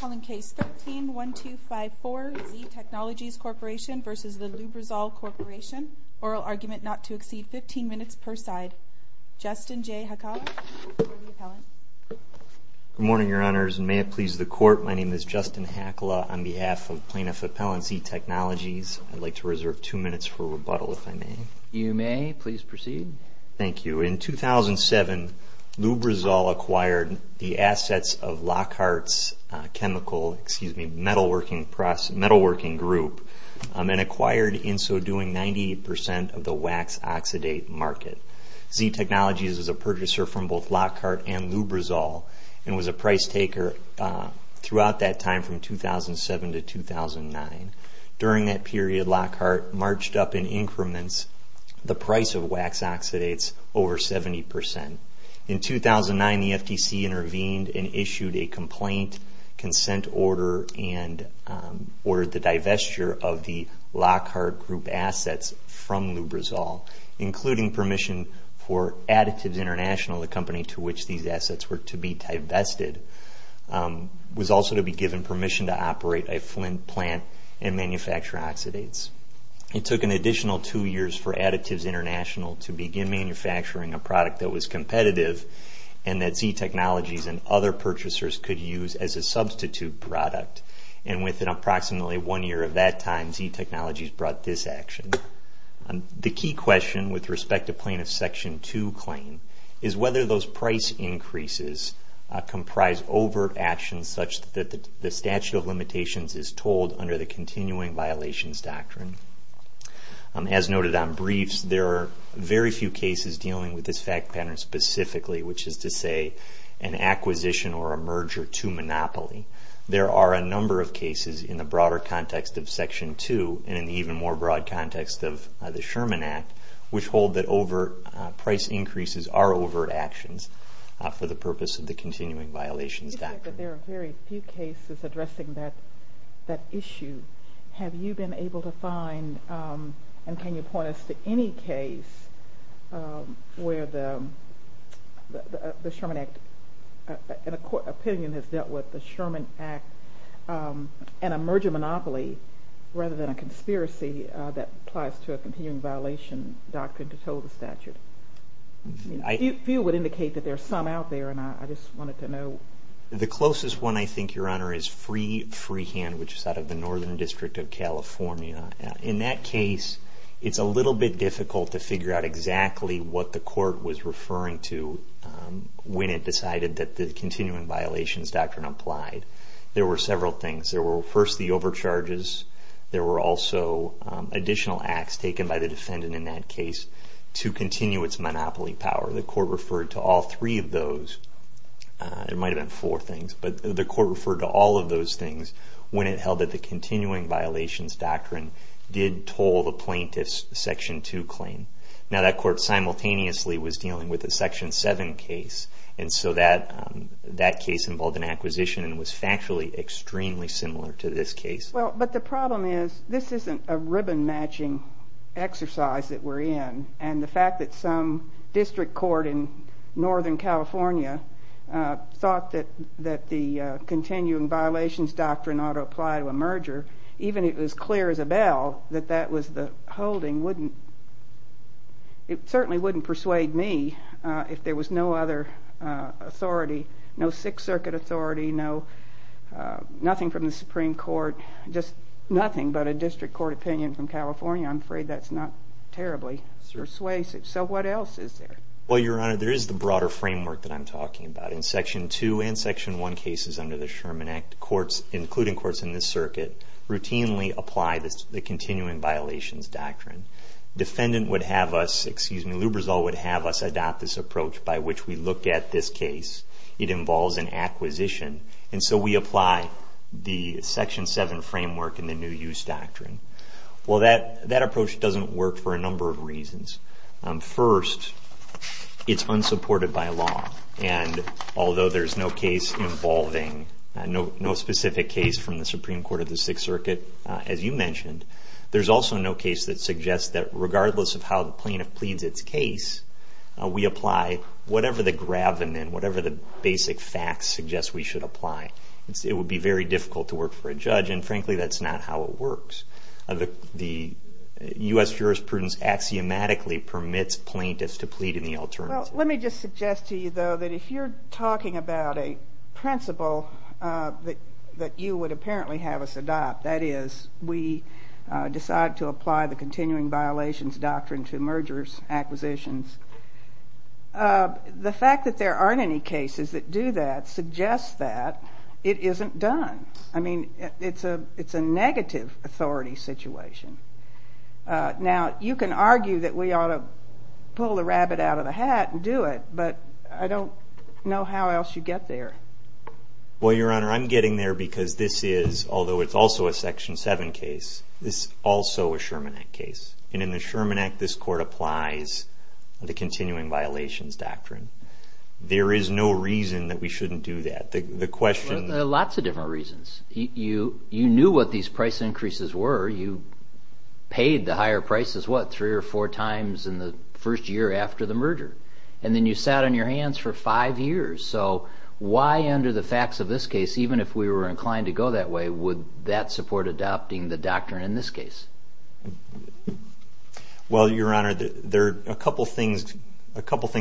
Calling case 13-1254, Z Technologies Corp v. The Lubrizol Corp. Oral argument not to exceed 15 minutes per side. Justin J. Hakala for the appellant. Good morning, Your Honors, and may it please the Court, my name is Justin Hakala on behalf of Plaintiff Appellant Z Technologies. I'd like to reserve two minutes for rebuttal, if I may. You may. Please proceed. Thank you. In 2007, Lubrizol acquired the assets of Lockhart's chemical, excuse me, metalworking group, and acquired, in so doing, 90% of the wax oxidate market. Z Technologies is a purchaser from both Lockhart and Lubrizol and was a price taker throughout that time from 2007 to 2009. During that period, Lockhart marched up in increments the price of wax oxidates over 70%. In 2009, the FTC intervened and issued a complaint, consent order, and ordered the divestiture of the Lockhart Group assets from Lubrizol, including permission for Additives International, the company to which these assets were to be divested, was also to be given permission to operate a flint plant and manufacture oxidates. It took an additional two years for Additives International to begin manufacturing a product that was competitive and that Z Technologies and other purchasers could use as a substitute product. And within approximately one year of that time, Z Technologies brought this action. The key question with respect to Plaintiff's Section 2 claim is whether those price increases comprise overt actions such that the statute of limitations is told under the continuing violations doctrine. As noted on briefs, there are very few cases dealing with this fact pattern specifically, which is to say an acquisition or a merger to monopoly. There are a number of cases in the broader context of Section 2 and in the even more broad context of the Sherman Act, which hold that overt price increases are overt actions for the purpose of the continuing violations doctrine. There are very few cases addressing that issue. Have you been able to find, and can you point us to any case where the Sherman Act, in a court opinion, has dealt with the Sherman Act and a merger monopoly rather than a conspiracy that applies to a continuing violation doctrine to toll the statute? A few would indicate that there are some out there, and I just wanted to know. The closest one, I think, Your Honor, is Freehand, which is out of the Northern District of California. In that case, it's a little bit difficult to figure out exactly what the court was referring to when it decided that the continuing violations doctrine applied. There were several things. There were first the overcharges. There were also additional acts taken by the defendant in that case to continue its monopoly power. The court referred to all three of those. There might have been four things, but the court referred to all of those things when it held that the continuing violations doctrine did toll the plaintiff's Section 2 claim. Now, that court simultaneously was dealing with a Section 7 case, and so that case involved an acquisition and was factually extremely similar to this case. Well, but the problem is this isn't a ribbon-matching exercise that we're in, and the fact that some district court in Northern California thought that the continuing violations doctrine ought to apply to a merger, even if it was clear as a bell that that was the holding, it certainly wouldn't persuade me if there was no other authority, no Sixth Circuit authority, nothing from the Supreme Court, just nothing but a district court opinion from California. I'm afraid that's not terribly persuasive. So what else is there? Well, Your Honor, there is the broader framework that I'm talking about. In Section 2 and Section 1 cases under the Sherman Act, including courts in this circuit, routinely apply the continuing violations doctrine. Defendant would have us, excuse me, Luberzal would have us adopt this approach by which we look at this case. It involves an acquisition, and so we apply the Section 7 framework and the new use doctrine. Well, that approach doesn't work for a number of reasons. First, it's unsupported by law, and although there's no specific case from the Supreme Court of the Sixth Circuit, as you mentioned, there's also no case that suggests that regardless of how the plaintiff pleads its case, we apply whatever the gravamen, whatever the basic facts suggest we should apply. It would be very difficult to work for a judge, and frankly, that's not how it works. The U.S. jurisprudence axiomatically permits plaintiffs to plead in the alternative. Well, let me just suggest to you, though, that if you're talking about a principle that you would apparently have us adopt, that is, we decide to apply the continuing violations doctrine to mergers, acquisitions, the fact that there aren't any cases that do that suggests that it isn't done. I mean, it's a negative authority situation. Now, you can argue that we ought to pull the rabbit out of the hat and do it, but I don't know how else you get there. Well, Your Honor, I'm getting there because this is, although it's also a Section 7 case, this is also a Sherman Act case, and in the Sherman Act, this court applies the continuing violations doctrine. There is no reason that we shouldn't do that. There are lots of different reasons. You knew what these price increases were. You paid the higher prices, what, three or four times in the first year after the merger, and then you sat on your hands for five years. So why, under the facts of this case, even if we were inclined to go that way, would that support adopting the doctrine in this case? Well, Your Honor, there are a couple things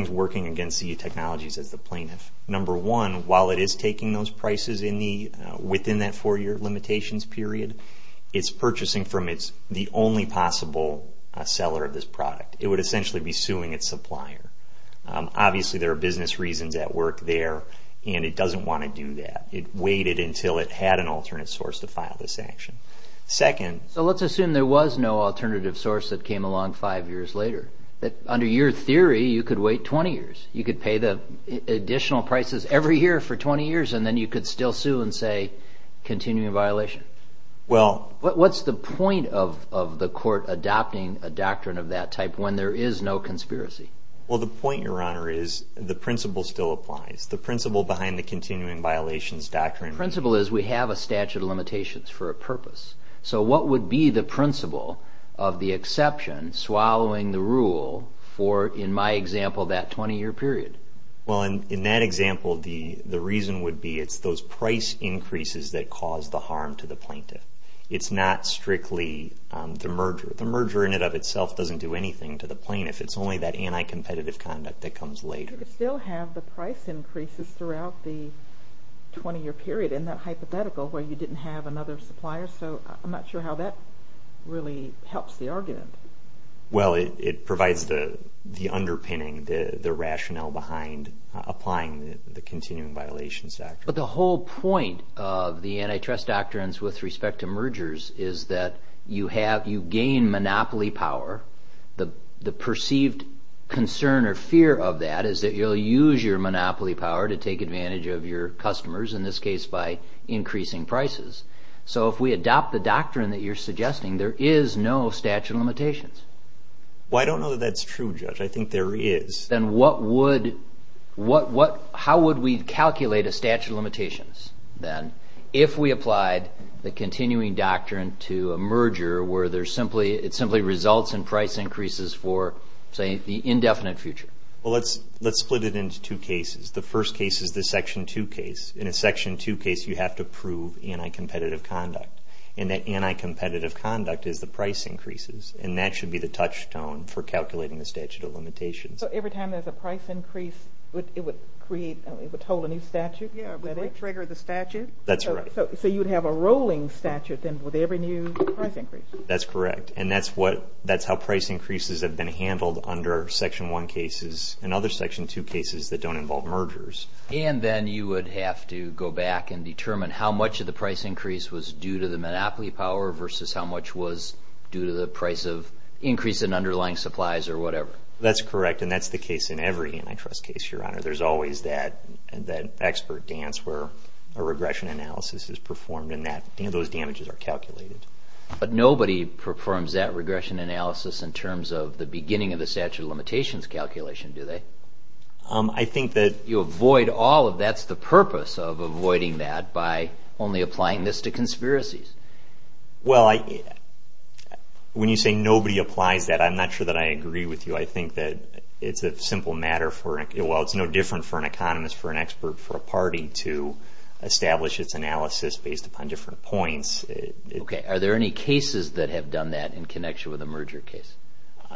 working against CE Technologies as the plaintiff. Number one, while it is taking those prices within that four-year limitations period, it's purchasing from the only possible seller of this product. It would essentially be suing its supplier. Obviously, there are business reasons at work there, and it doesn't want to do that. It waited until it had an alternate source to file this action. Second. So let's assume there was no alternative source that came along five years later. Under your theory, you could wait 20 years. You could pay the additional prices every year for 20 years, and then you could still sue and say continuing violation. What's the point of the court adopting a doctrine of that type when there is no conspiracy? Well, the point, Your Honor, is the principle still applies. The principle behind the continuing violations doctrine. The principle is we have a statute of limitations for a purpose. So what would be the principle of the exception swallowing the rule for, in my example, that 20-year period? Well, in that example, the reason would be it's those price increases that cause the harm to the plaintiff. It's not strictly the merger. The merger in and of itself doesn't do anything to the plaintiff. It's only that anti-competitive conduct that comes later. You could still have the price increases throughout the 20-year period in that hypothetical where you didn't have another supplier. So I'm not sure how that really helps the argument. Well, it provides the underpinning, the rationale behind applying the continuing violations doctrine. But the whole point of the antitrust doctrines with respect to mergers is that you gain monopoly power. The perceived concern or fear of that is that you'll use your monopoly power to take advantage of your customers, in this case by increasing prices. So if we adopt the doctrine that you're suggesting, there is no statute of limitations. Well, I don't know that that's true, Judge. I think there is. Then how would we calculate a statute of limitations, then, if we applied the continuing doctrine to a merger where it simply results in price increases for, say, the indefinite future? Well, let's split it into two cases. The first case is the Section 2 case. In a Section 2 case, you have to prove anti-competitive conduct, and that anti-competitive conduct is the price increases, and that should be the touchstone for calculating the statute of limitations. So every time there's a price increase, it would hold a new statute? Yes, it would trigger the statute. That's right. So you would have a rolling statute, then, with every new price increase? That's correct, and that's how price increases have been handled under Section 1 cases and other Section 2 cases that don't involve mergers. And then you would have to go back and determine how much of the price increase was due to the monopoly power versus how much was due to the price of increase in underlying supplies or whatever? That's correct, and that's the case in every antitrust case, Your Honor. There's always that expert dance where a regression analysis is performed and those damages are calculated. But nobody performs that regression analysis in terms of the beginning of the statute of limitations calculation, do they? I think that... You avoid all of that. That's the purpose of avoiding that by only applying this to conspiracies. Well, when you say nobody applies that, I'm not sure that I agree with you. I think that it's a simple matter for, well, it's no different for an economist, for an expert, for a party to establish its analysis based upon different points. Okay. Are there any cases that have done that in connection with a merger case?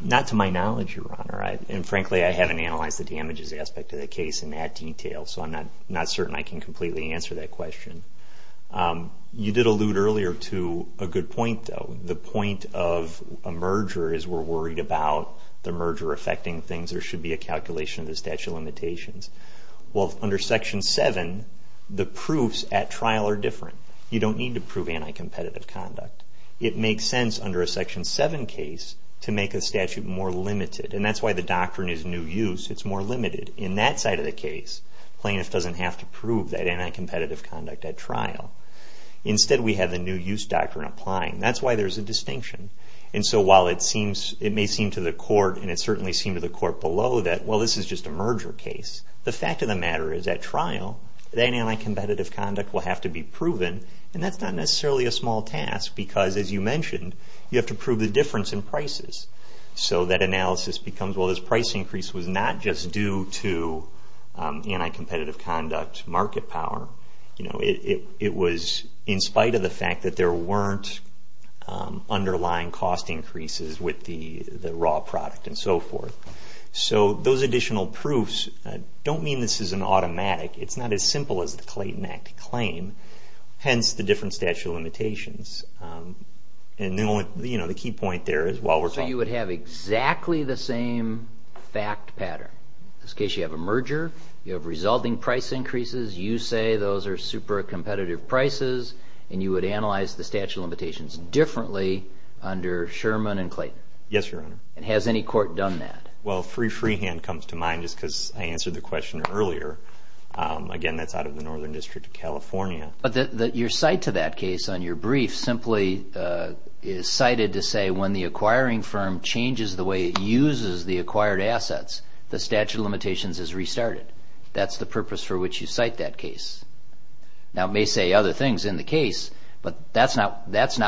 Not to my knowledge, Your Honor, and frankly, I haven't analyzed the damages aspect of the case in that detail, so I'm not certain I can completely answer that question. You did allude earlier to a good point, though. The point of a merger is we're worried about the merger affecting things. There should be a calculation of the statute of limitations. Well, under Section 7, the proofs at trial are different. You don't need to prove anti-competitive conduct. It makes sense under a Section 7 case to make a statute more limited, and that's why the doctrine is new use. It's more limited in that side of the case. Plaintiff doesn't have to prove that anti-competitive conduct at trial. Instead, we have the new use doctrine applying. That's why there's a distinction. And so while it may seem to the court, and it certainly seemed to the court below, that, well, this is just a merger case, the fact of the matter is at trial, that anti-competitive conduct will have to be proven, and that's not necessarily a small task because, as you mentioned, you have to prove the difference in prices. So that analysis becomes, well, this price increase was not just due to anti-competitive conduct market power. It was in spite of the fact that there weren't underlying cost increases with the raw product and so forth. So those additional proofs don't mean this is an automatic. It's not as simple as the Clayton Act claim, hence the different statute of limitations. And the key point there is while we're talking. So you would have exactly the same fact pattern. In this case, you have a merger. You have resulting price increases. You say those are super competitive prices, and you would analyze the statute of limitations differently under Sherman and Clayton. Yes, Your Honor. And has any court done that? Well, Free Freehand comes to mind just because I answered the question earlier. Again, that's out of the Northern District of California. But your cite to that case on your brief simply is cited to say when the acquiring firm changes the way it uses the acquired assets, the statute of limitations is restarted. That's the purpose for which you cite that case. Now it may say other things in the case, but that's not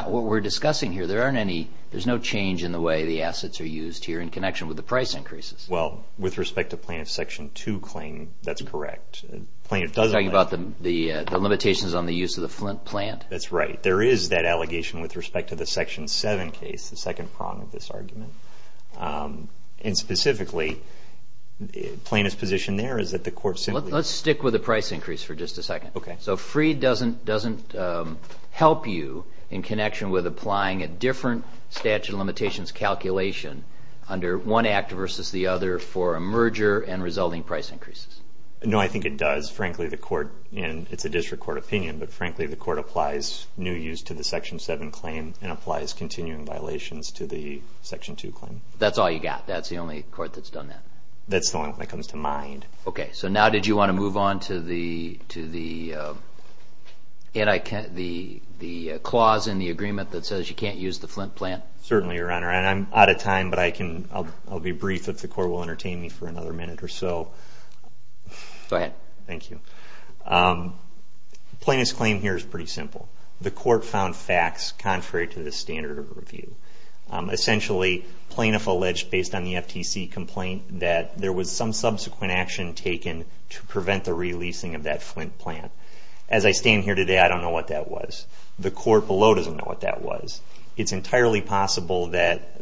what we're discussing here. There's no change in the way the assets are used here in connection with the price increases. Well, with respect to plaintiff's section 2 claim, that's correct. You're talking about the limitations on the use of the Flint plant? That's right. There is that allegation with respect to the section 7 case, the second prong of this argument. And specifically, plaintiff's position there is that the court simply Let's stick with the price increase for just a second. So Free doesn't help you in connection with applying a different statute of limitations calculation under one act versus the other for a merger and resulting price increases? No, I think it does. Frankly, the court, and it's a district court opinion, but frankly the court applies new use to the section 7 claim and applies continuing violations to the section 2 claim. That's all you got? That's the only court that's done that? That's the only one that comes to mind. Okay, so now did you want to move on to the clause in the agreement that says you can't use the Flint plant? Certainly, Your Honor, and I'm out of time, but I'll be brief if the court will entertain me for another minute or so. Go ahead. Thank you. Plaintiff's claim here is pretty simple. The court found facts contrary to the standard of review. Essentially, plaintiff alleged, based on the FTC complaint, that there was some subsequent action taken to prevent the releasing of that Flint plant. As I stand here today, I don't know what that was. The court below doesn't know what that was. It's entirely possible that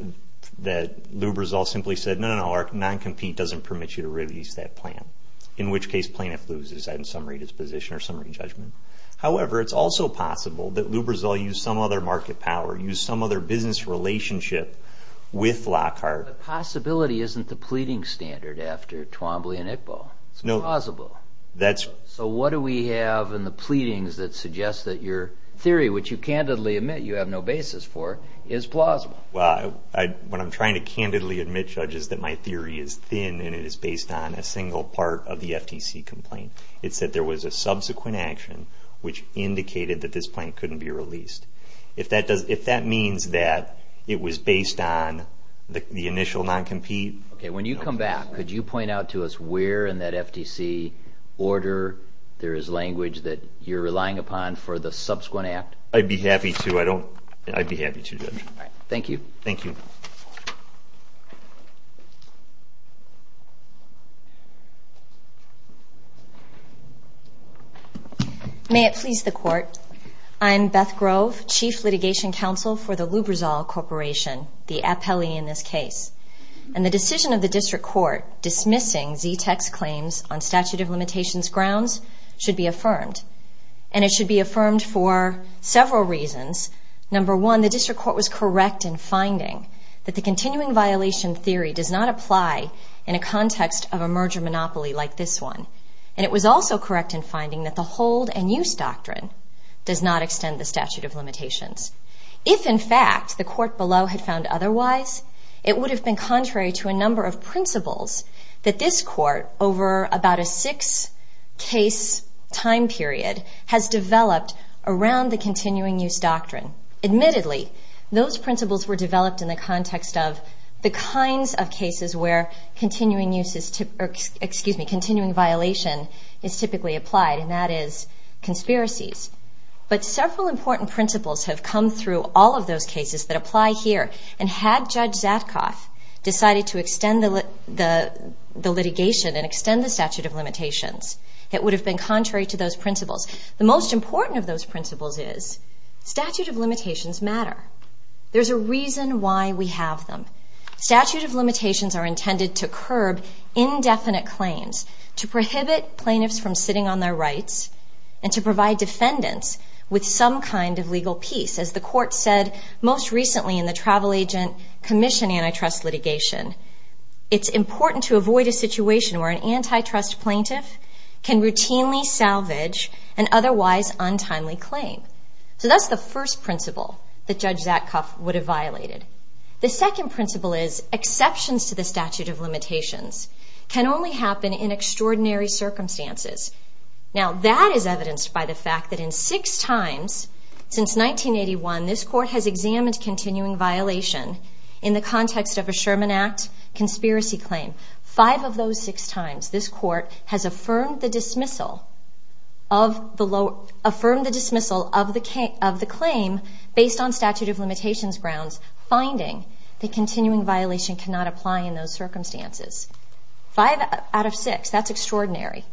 Lubrizol simply said, no, no, no, non-compete doesn't permit you to release that plant, in which case plaintiff loses in summary disposition or summary judgment. However, it's also possible that Lubrizol used some other market power, used some other business relationship with Lockhart. The possibility isn't the pleading standard after Twombly and Iqbal. It's plausible. So what do we have in the pleadings that suggest that your theory, which you candidly admit you have no basis for, is plausible? What I'm trying to candidly admit, Judge, is that my theory is thin and it is based on a single part of the FTC complaint. It's that there was a subsequent action which indicated that this plant couldn't be released. If that means that it was based on the initial non-compete. Okay. When you come back, could you point out to us where in that FTC order there is language that you're relying upon for the subsequent act? I'd be happy to. I don't – I'd be happy to, Judge. All right. Thank you. Thank you. May it please the Court. I'm Beth Grove, Chief Litigation Counsel for the Lubrizol Corporation, the appellee in this case. And the decision of the district court dismissing ZTECH's claims on statute of limitations grounds should be affirmed. And it should be affirmed for several reasons. Number one, the district court was correct in finding that the continuing violation theory does not apply in a context of a merger monopoly like this one. And it was also correct in finding that the hold and use doctrine does not extend the statute of limitations. If, in fact, the court below had found otherwise, it would have been contrary to a number of principles that this court, over about a six-case time period, has developed around the continuing use doctrine. Admittedly, those principles were developed in the context of the kinds of cases where continuing violation is typically applied, and that is conspiracies. But several important principles have come through all of those cases that apply here. And had Judge Zatkoff decided to extend the litigation and extend the statute of limitations, it would have been contrary to those principles. The most important of those principles is statute of limitations matter. There's a reason why we have them. Statute of limitations are intended to curb indefinite claims, to prohibit plaintiffs from sitting on their rights, and to provide defendants with some kind of legal peace. As the court said most recently in the Travel Agent Commission antitrust litigation, it's important to avoid a situation where an antitrust plaintiff can routinely salvage an otherwise untimely claim. So that's the first principle that Judge Zatkoff would have violated. The second principle is exceptions to the statute of limitations can only happen in extraordinary circumstances. Now, that is evidenced by the fact that in six times since 1981, this court has examined continuing violation in the context of a Sherman Act conspiracy claim. Five of those six times, this court has affirmed the dismissal of the claim based on statute of limitations grounds, finding that continuing violation cannot apply in those circumstances. Five out of six, that's extraordinary.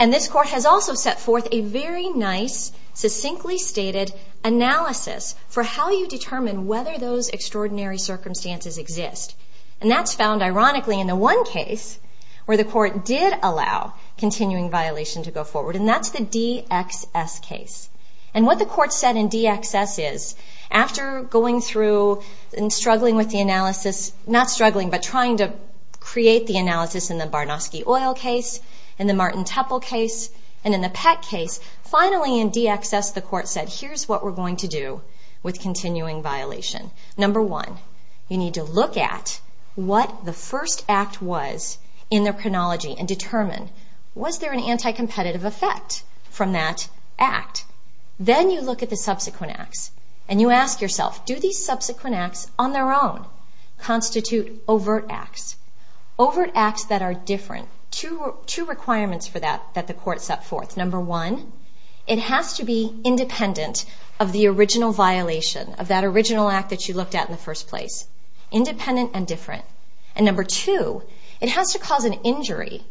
And this court has also set forth a very nice, succinctly stated analysis for how you determine whether those extraordinary circumstances exist. And that's found, ironically, in the one case where the court did allow continuing violation to go forward, and that's the DXS case. And what the court said in DXS is, after going through and struggling with the analysis, not struggling, but trying to create the analysis in the Barnofsky Oil case, in the Martin Tupple case, and in the Peck case, finally in DXS the court said, here's what we're going to do with continuing violation. Number one, you need to look at what the first act was in their chronology and determine, was there an anti-competitive effect from that act? Then you look at the subsequent acts, and you ask yourself, do these subsequent acts on their own constitute overt acts? Overt acts that are different. Two requirements for that that the court set forth. Number one, it has to be independent of the original violation, of that original act that you looked at in the first place. Independent and different. And number two, it has to cause an injury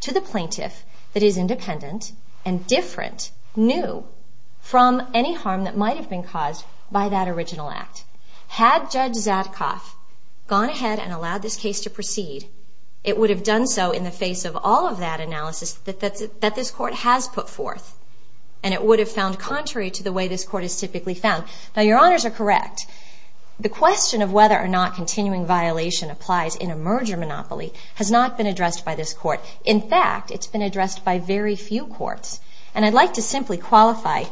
to the plaintiff that is independent and different, new, from any harm that might have been caused by that original act. Had Judge Zadkoff gone ahead and allowed this case to proceed, it would have done so in the face of all of that analysis that this court has put forth, and it would have found contrary to the way this court has typically found. Now your honors are correct. The question of whether or not continuing violation applies in a merger monopoly has not been addressed by this court. In fact, it's been addressed by very few courts. And I'd like to simply qualify.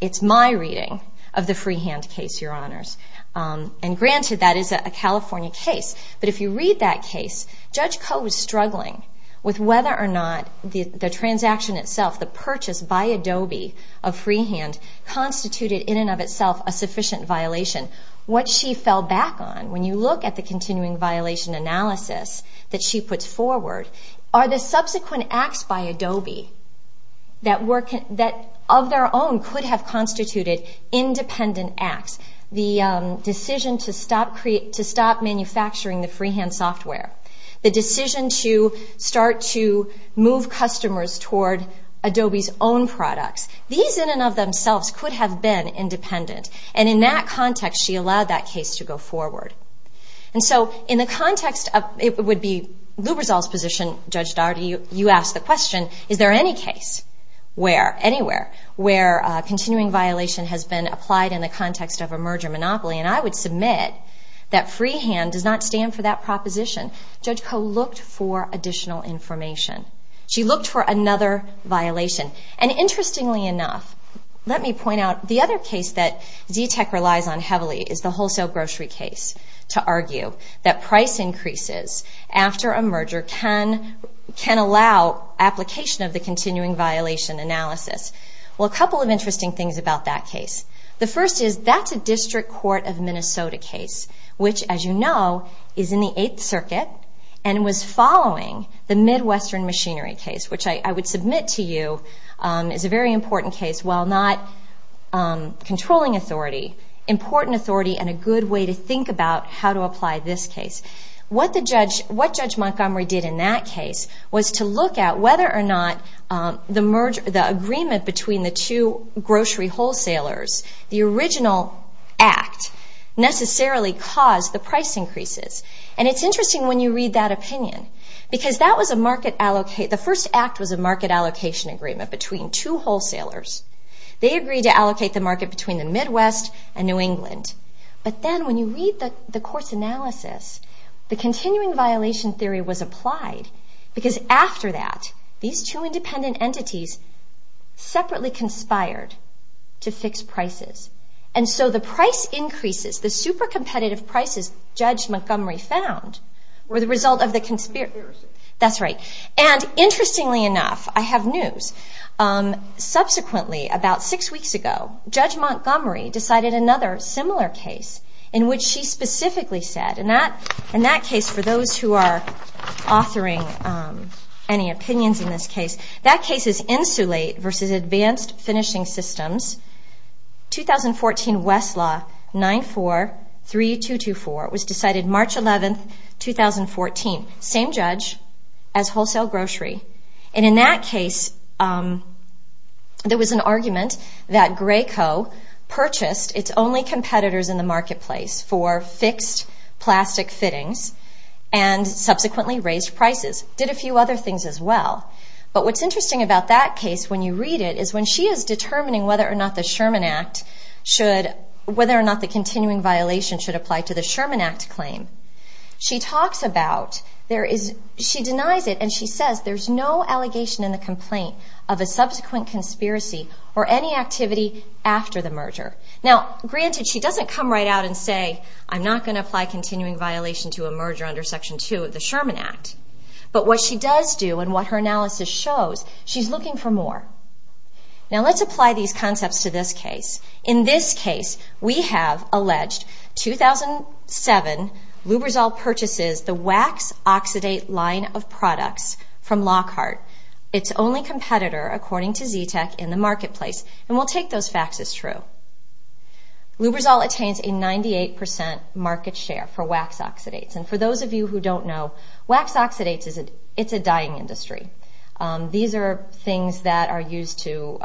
It's my reading of the Freehand case, your honors. And granted, that is a California case. But if you read that case, Judge Koh was struggling with whether or not the transaction itself, the purchase by Adobe of Freehand, constituted in and of itself a sufficient violation. What she fell back on, when you look at the continuing violation analysis that she puts forward, are the subsequent acts by Adobe that of their own could have constituted independent acts. The decision to stop manufacturing the Freehand software. The decision to start to move customers toward Adobe's own products. These in and of themselves could have been independent. And in that context, she allowed that case to go forward. And so in the context of it would be Lubrizol's position, Judge Daugherty, you asked the question, is there any case where, anywhere, where continuing violation has been applied in the context of a merger monopoly? And I would submit that Freehand does not stand for that proposition. Judge Koh looked for additional information. She looked for another violation. And interestingly enough, let me point out the other case that Z-Tech relies on heavily is the wholesale grocery case to argue that price increases after a merger can allow application of the continuing violation analysis. Well, a couple of interesting things about that case. The first is that's a District Court of Minnesota case, which, as you know, is in the Eighth Circuit and was following the Midwestern machinery case, which I would submit to you is a very important case. While not controlling authority, important authority and a good way to think about how to apply this case. What Judge Montgomery did in that case was to look at whether or not the agreement between the two grocery wholesalers, the original act, necessarily caused the price increases. And it's interesting when you read that opinion because that was a market allocate, the first act was a market allocation agreement between two wholesalers. They agreed to allocate the market between the Midwest and New England. But then when you read the court's analysis, the continuing violation theory was applied because after that, these two independent entities separately conspired to fix prices. And so the price increases, the super competitive prices Judge Montgomery found, were the result of the conspiracy. That's right. And interestingly enough, I have news. Subsequently, about six weeks ago, Judge Montgomery decided another similar case in which she specifically said, in that case, for those who are authoring any opinions in this case, that case is Insulate versus Advanced Finishing Systems, 2014 Westlaw 943224. It was decided March 11, 2014. Same judge as Wholesale Grocery. And in that case, there was an argument that Graco purchased its only competitors in the marketplace for fixed plastic fittings and subsequently raised prices. Did a few other things as well. But what's interesting about that case, when you read it, is when she is determining whether or not the Sherman Act should, whether or not the continuing violation should apply to the Sherman Act claim, she talks about, she denies it and she says there's no allegation in the complaint of a subsequent conspiracy or any activity after the merger. Now, granted, she doesn't come right out and say, I'm not going to apply continuing violation to a merger under Section 2 of the Sherman Act. But what she does do and what her analysis shows, she's looking for more. Now, let's apply these concepts to this case. In this case, we have alleged 2007 Lubrizol purchases the wax-oxidate line of products from Lockhart, its only competitor, according to Z-Tech, in the marketplace. And we'll take those facts as true. Lubrizol attains a 98% market share for wax-oxidates. And for those of you who don't know, wax-oxidates, it's a dying industry. These are things that are used to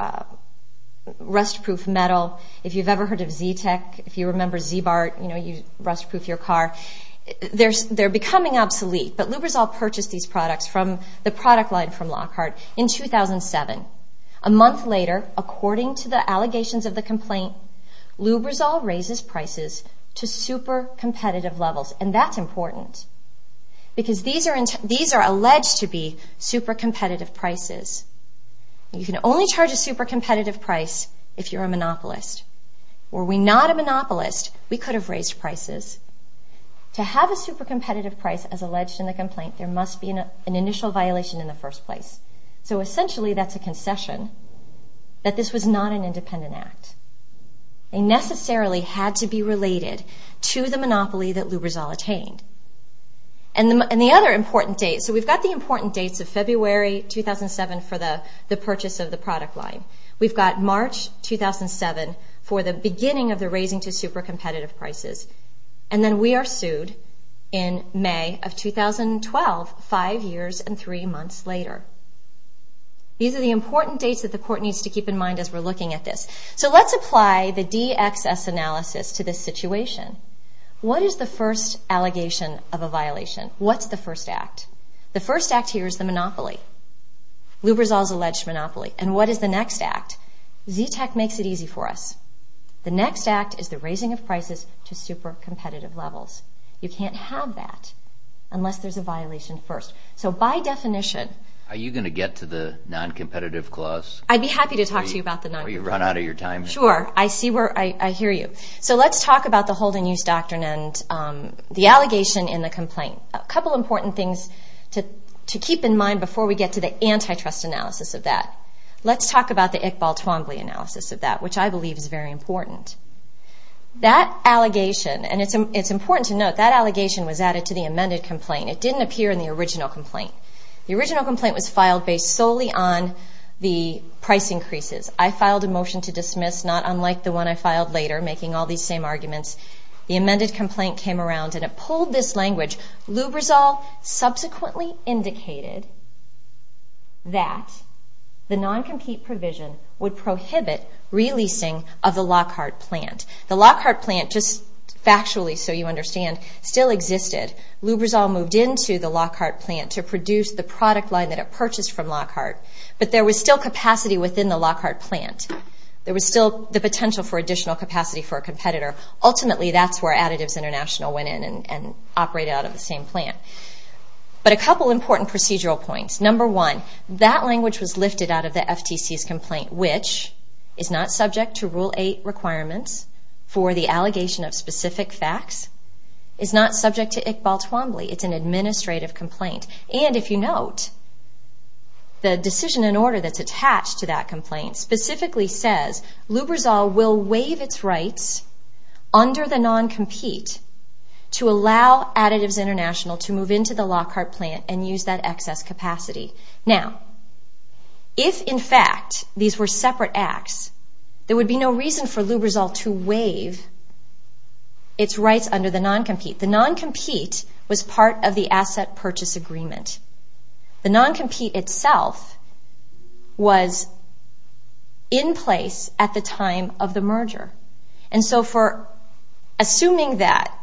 rust-proof metal. If you've ever heard of Z-Tech, if you remember Z-Bart, you know, you rust-proof your car. They're becoming obsolete. But Lubrizol purchased these products from the product line from Lockhart in 2007. A month later, according to the allegations of the complaint, Lubrizol raises prices to super-competitive levels. And that's important because these are alleged to be super-competitive prices. You can only charge a super-competitive price if you're a monopolist. Were we not a monopolist, we could have raised prices. To have a super-competitive price, as alleged in the complaint, there must be an initial violation in the first place. So essentially, that's a concession that this was not an independent act. They necessarily had to be related to the monopoly that Lubrizol attained. And the other important date, so we've got the important dates of February 2007 for the purchase of the product line. We've got March 2007 for the beginning of the raising to super-competitive prices. And then we are sued in May of 2012, five years and three months later. These are the important dates that the court needs to keep in mind as we're looking at this. So let's apply the DXS analysis to this situation. What is the first allegation of a violation? What's the first act? The first act here is the monopoly. Lubrizol's alleged monopoly. And what is the next act? ZTAC makes it easy for us. The next act is the raising of prices to super-competitive levels. You can't have that unless there's a violation first. So by definition... Are you going to get to the non-competitive clause? I'd be happy to talk to you about the non-competitive clause. Have you run out of your time? Sure, I hear you. So let's talk about the hold-and-use doctrine and the allegation in the complaint. A couple important things to keep in mind before we get to the antitrust analysis of that. Let's talk about the Iqbal Twombly analysis of that, which I believe is very important. That allegation, and it's important to note, that allegation was added to the amended complaint. It didn't appear in the original complaint. The original complaint was filed based solely on the price increases. I filed a motion to dismiss, not unlike the one I filed later, making all these same arguments. The amended complaint came around and it pulled this language. Lubrizol subsequently indicated that the non-compete provision would prohibit releasing of the Lockhart plant. The Lockhart plant, just factually so you understand, still existed. Lubrizol moved into the Lockhart plant to produce the product line that it purchased from Lockhart. But there was still capacity within the Lockhart plant. Ultimately, that's where Additives International went in and operated out of the same plant. But a couple important procedural points. Number one, that language was lifted out of the FTC's complaint, which is not subject to Rule 8 requirements for the allegation of specific facts. It's not subject to Iqbal Twombly. It's an administrative complaint. And if you note, the decision in order that's attached to that complaint specifically says Lubrizol will waive its rights under the non-compete to allow Additives International to move into the Lockhart plant and use that excess capacity. Now, if in fact these were separate acts, there would be no reason for Lubrizol to waive its rights under the non-compete. The non-compete was part of the asset purchase agreement. The non-compete itself was in place at the time of the merger. And so for assuming that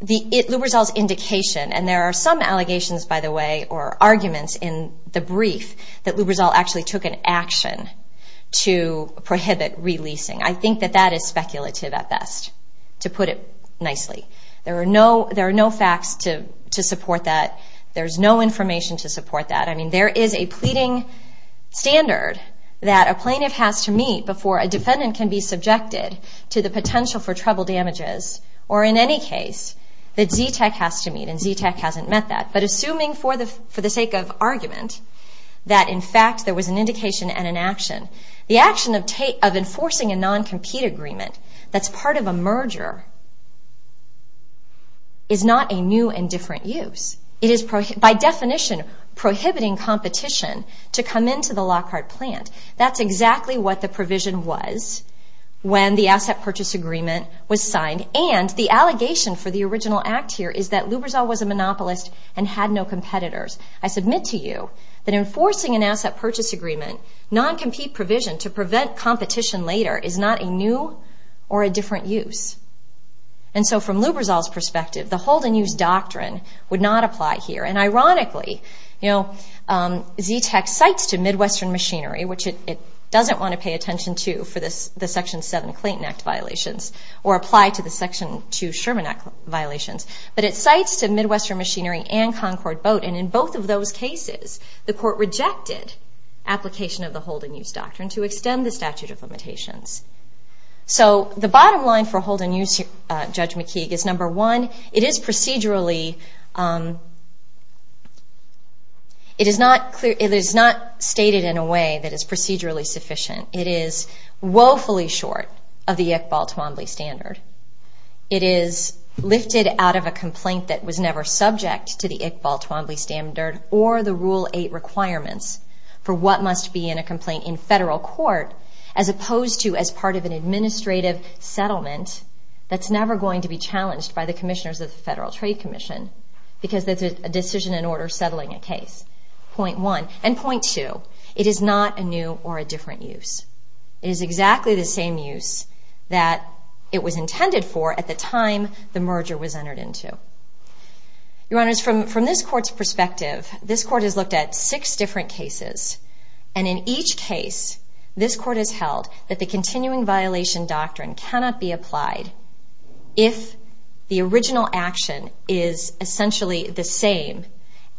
Lubrizol's indication, and there are some allegations, by the way, or arguments in the brief, that Lubrizol actually took an action to prohibit releasing. I think that that is speculative at best, to put it nicely. There are no facts to support that. There's no information to support that. I mean, there is a pleading standard that a plaintiff has to meet before a defendant can be subjected to the potential for trouble damages, or in any case, that ZTAC has to meet, and ZTAC hasn't met that. But assuming for the sake of argument that in fact there was an indication and an action, the action of enforcing a non-compete agreement that's part of a merger is not a new and different use. It is by definition prohibiting competition to come into the Lockhart plant. That's exactly what the provision was when the asset purchase agreement was signed. And the allegation for the original act here is that Lubrizol was a monopolist and had no competitors. I submit to you that enforcing an asset purchase agreement, non-compete provision to prevent competition later is not a new or a different use. And so from Lubrizol's perspective, the hold and use doctrine would not apply here. And ironically, ZTAC cites to Midwestern Machinery, which it doesn't want to pay attention to for the Section 7 Clayton Act violations or apply to the Section 2 Sherman Act violations, but it cites to Midwestern Machinery and Concord Boat, and in both of those cases the court rejected application of the hold and use doctrine to extend the statute of limitations. So the bottom line for hold and use, Judge McKeague, is number one, it is procedurally, it is not stated in a way that is procedurally sufficient. It is woefully short of the Iqbal-Twombly standard. It is lifted out of a complaint that was never subject to the Iqbal-Twombly standard or the Rule 8 requirements for what must be in a complaint in federal court, as opposed to as part of an administrative settlement that's never going to be challenged by the commissioners of the Federal Trade Commission because that's a decision in order settling a case. Point one. And point two, it is not a new or a different use. It is exactly the same use that it was intended for at the time the merger was entered into. Your Honors, from this court's perspective, this court has looked at six different cases, and in each case this court has held that the continuing violation doctrine cannot be applied if the original action is essentially the same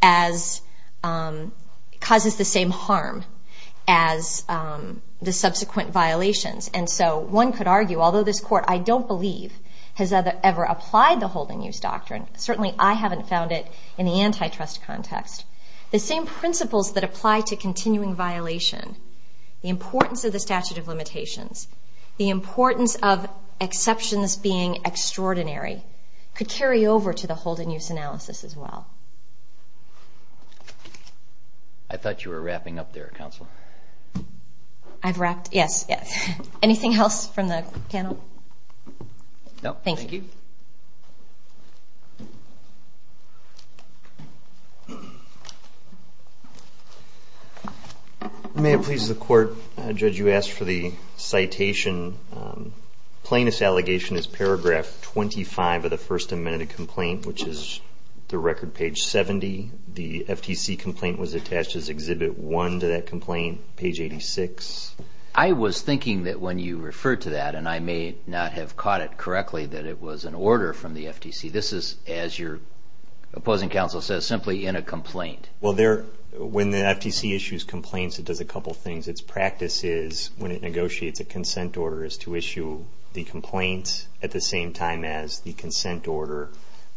as, causes the same harm as the subsequent violations. And so one could argue, although this court, I don't believe, has ever applied the hold and use doctrine, certainly I haven't found it in the antitrust context, the same principles that apply to continuing violation, the importance of the statute of limitations, the importance of exceptions being extraordinary, could carry over to the hold and use analysis as well. I thought you were wrapping up there, Counsel. I've wrapped? Yes, yes. Anything else from the panel? No, thank you. Thank you. May it please the Court, Judge, you asked for the citation. Plaintiff's allegation is paragraph 25 of the First Amendment complaint, which is the record page 70. The FTC complaint was attached as Exhibit 1 to that complaint, page 86. I was thinking that when you referred to that, and I may not have caught it correctly, that it was an order from the FTC. This is, as your opposing counsel says, simply in a complaint. Well, when the FTC issues complaints, it does a couple of things. Its practice is, when it negotiates a consent order, is to issue the complaint at the same time as the consent order.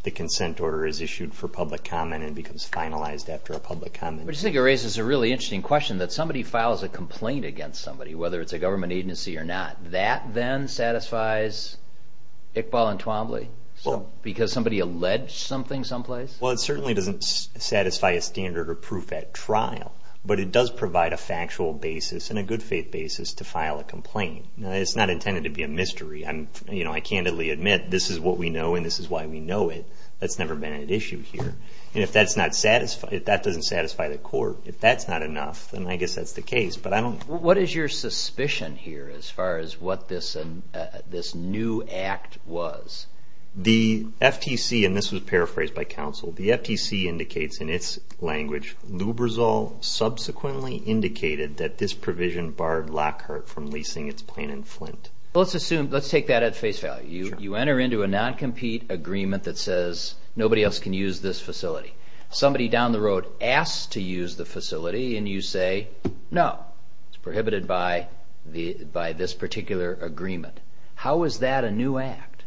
The consent order is issued for public comment and becomes finalized after a public comment. I just think it raises a really interesting question that somebody files a complaint against somebody, whether it's a government agency or not. That then satisfies Iqbal and Twombly because somebody alleged something someplace? Well, it certainly doesn't satisfy a standard or proof at trial, but it does provide a factual basis and a good faith basis to file a complaint. It's not intended to be a mystery. I candidly admit this is what we know and this is why we know it. That's never been at issue here. If that doesn't satisfy the court, if that's not enough, then I guess that's the case. What is your suspicion here as far as what this new act was? The FTC, and this was paraphrased by counsel, the FTC indicates in its language, Lubrizol subsequently indicated that this provision barred Lockhart from leasing its plant in Flint. Let's take that at face value. You enter into a non-compete agreement that says nobody else can use this facility. Somebody down the road asks to use the facility, and you say no. It's prohibited by this particular agreement. How is that a new act,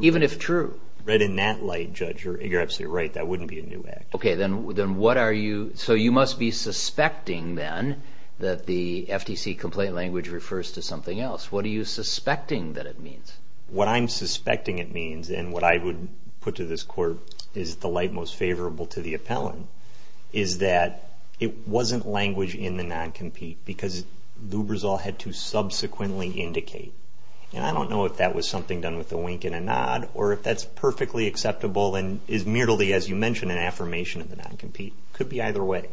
even if true? Right in that light, Judge, you're absolutely right. That wouldn't be a new act. So you must be suspecting then that the FTC complaint language refers to something else. What are you suspecting that it means? What I'm suspecting it means, and what I would put to this court, is the light most favorable to the appellant, is that it wasn't language in the non-compete because Lubrizol had to subsequently indicate. I don't know if that was something done with a wink and a nod, or if that's perfectly acceptable and is merely, as you mentioned, an affirmation of the non-compete. It could be either way.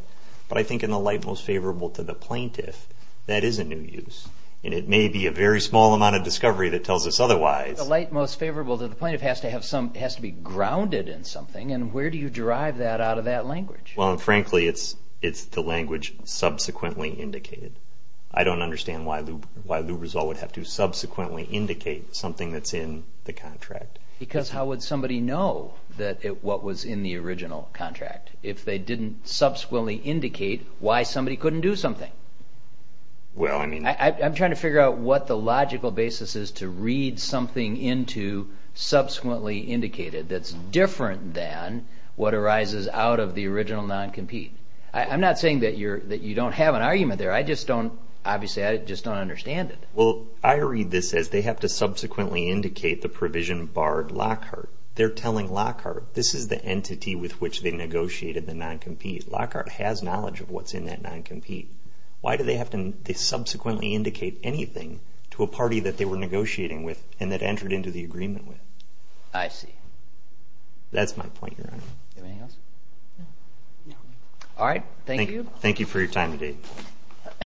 But I think in the light most favorable to the plaintiff, that is a new use. And it may be a very small amount of discovery that tells us otherwise. The light most favorable to the plaintiff has to be grounded in something, and where do you derive that out of that language? Frankly, it's the language subsequently indicated. I don't understand why Lubrizol would have to subsequently indicate something that's in the contract. Because how would somebody know what was in the original contract if they didn't subsequently indicate why somebody couldn't do something? I'm trying to figure out what the logical basis is to read something into subsequently indicated that's different than what arises out of the original non-compete. I'm not saying that you don't have an argument there. I just don't understand it. Well, I read this as they have to subsequently indicate the provision barred Lockhart. They're telling Lockhart this is the entity with which they negotiated the non-compete. Lockhart has knowledge of what's in that non-compete. Why do they have to subsequently indicate anything to a party that they were negotiating with and that entered into the agreement with? I see. That's my point, Your Honor. Anything else? No. All right. Thank you. Thank you for your time today.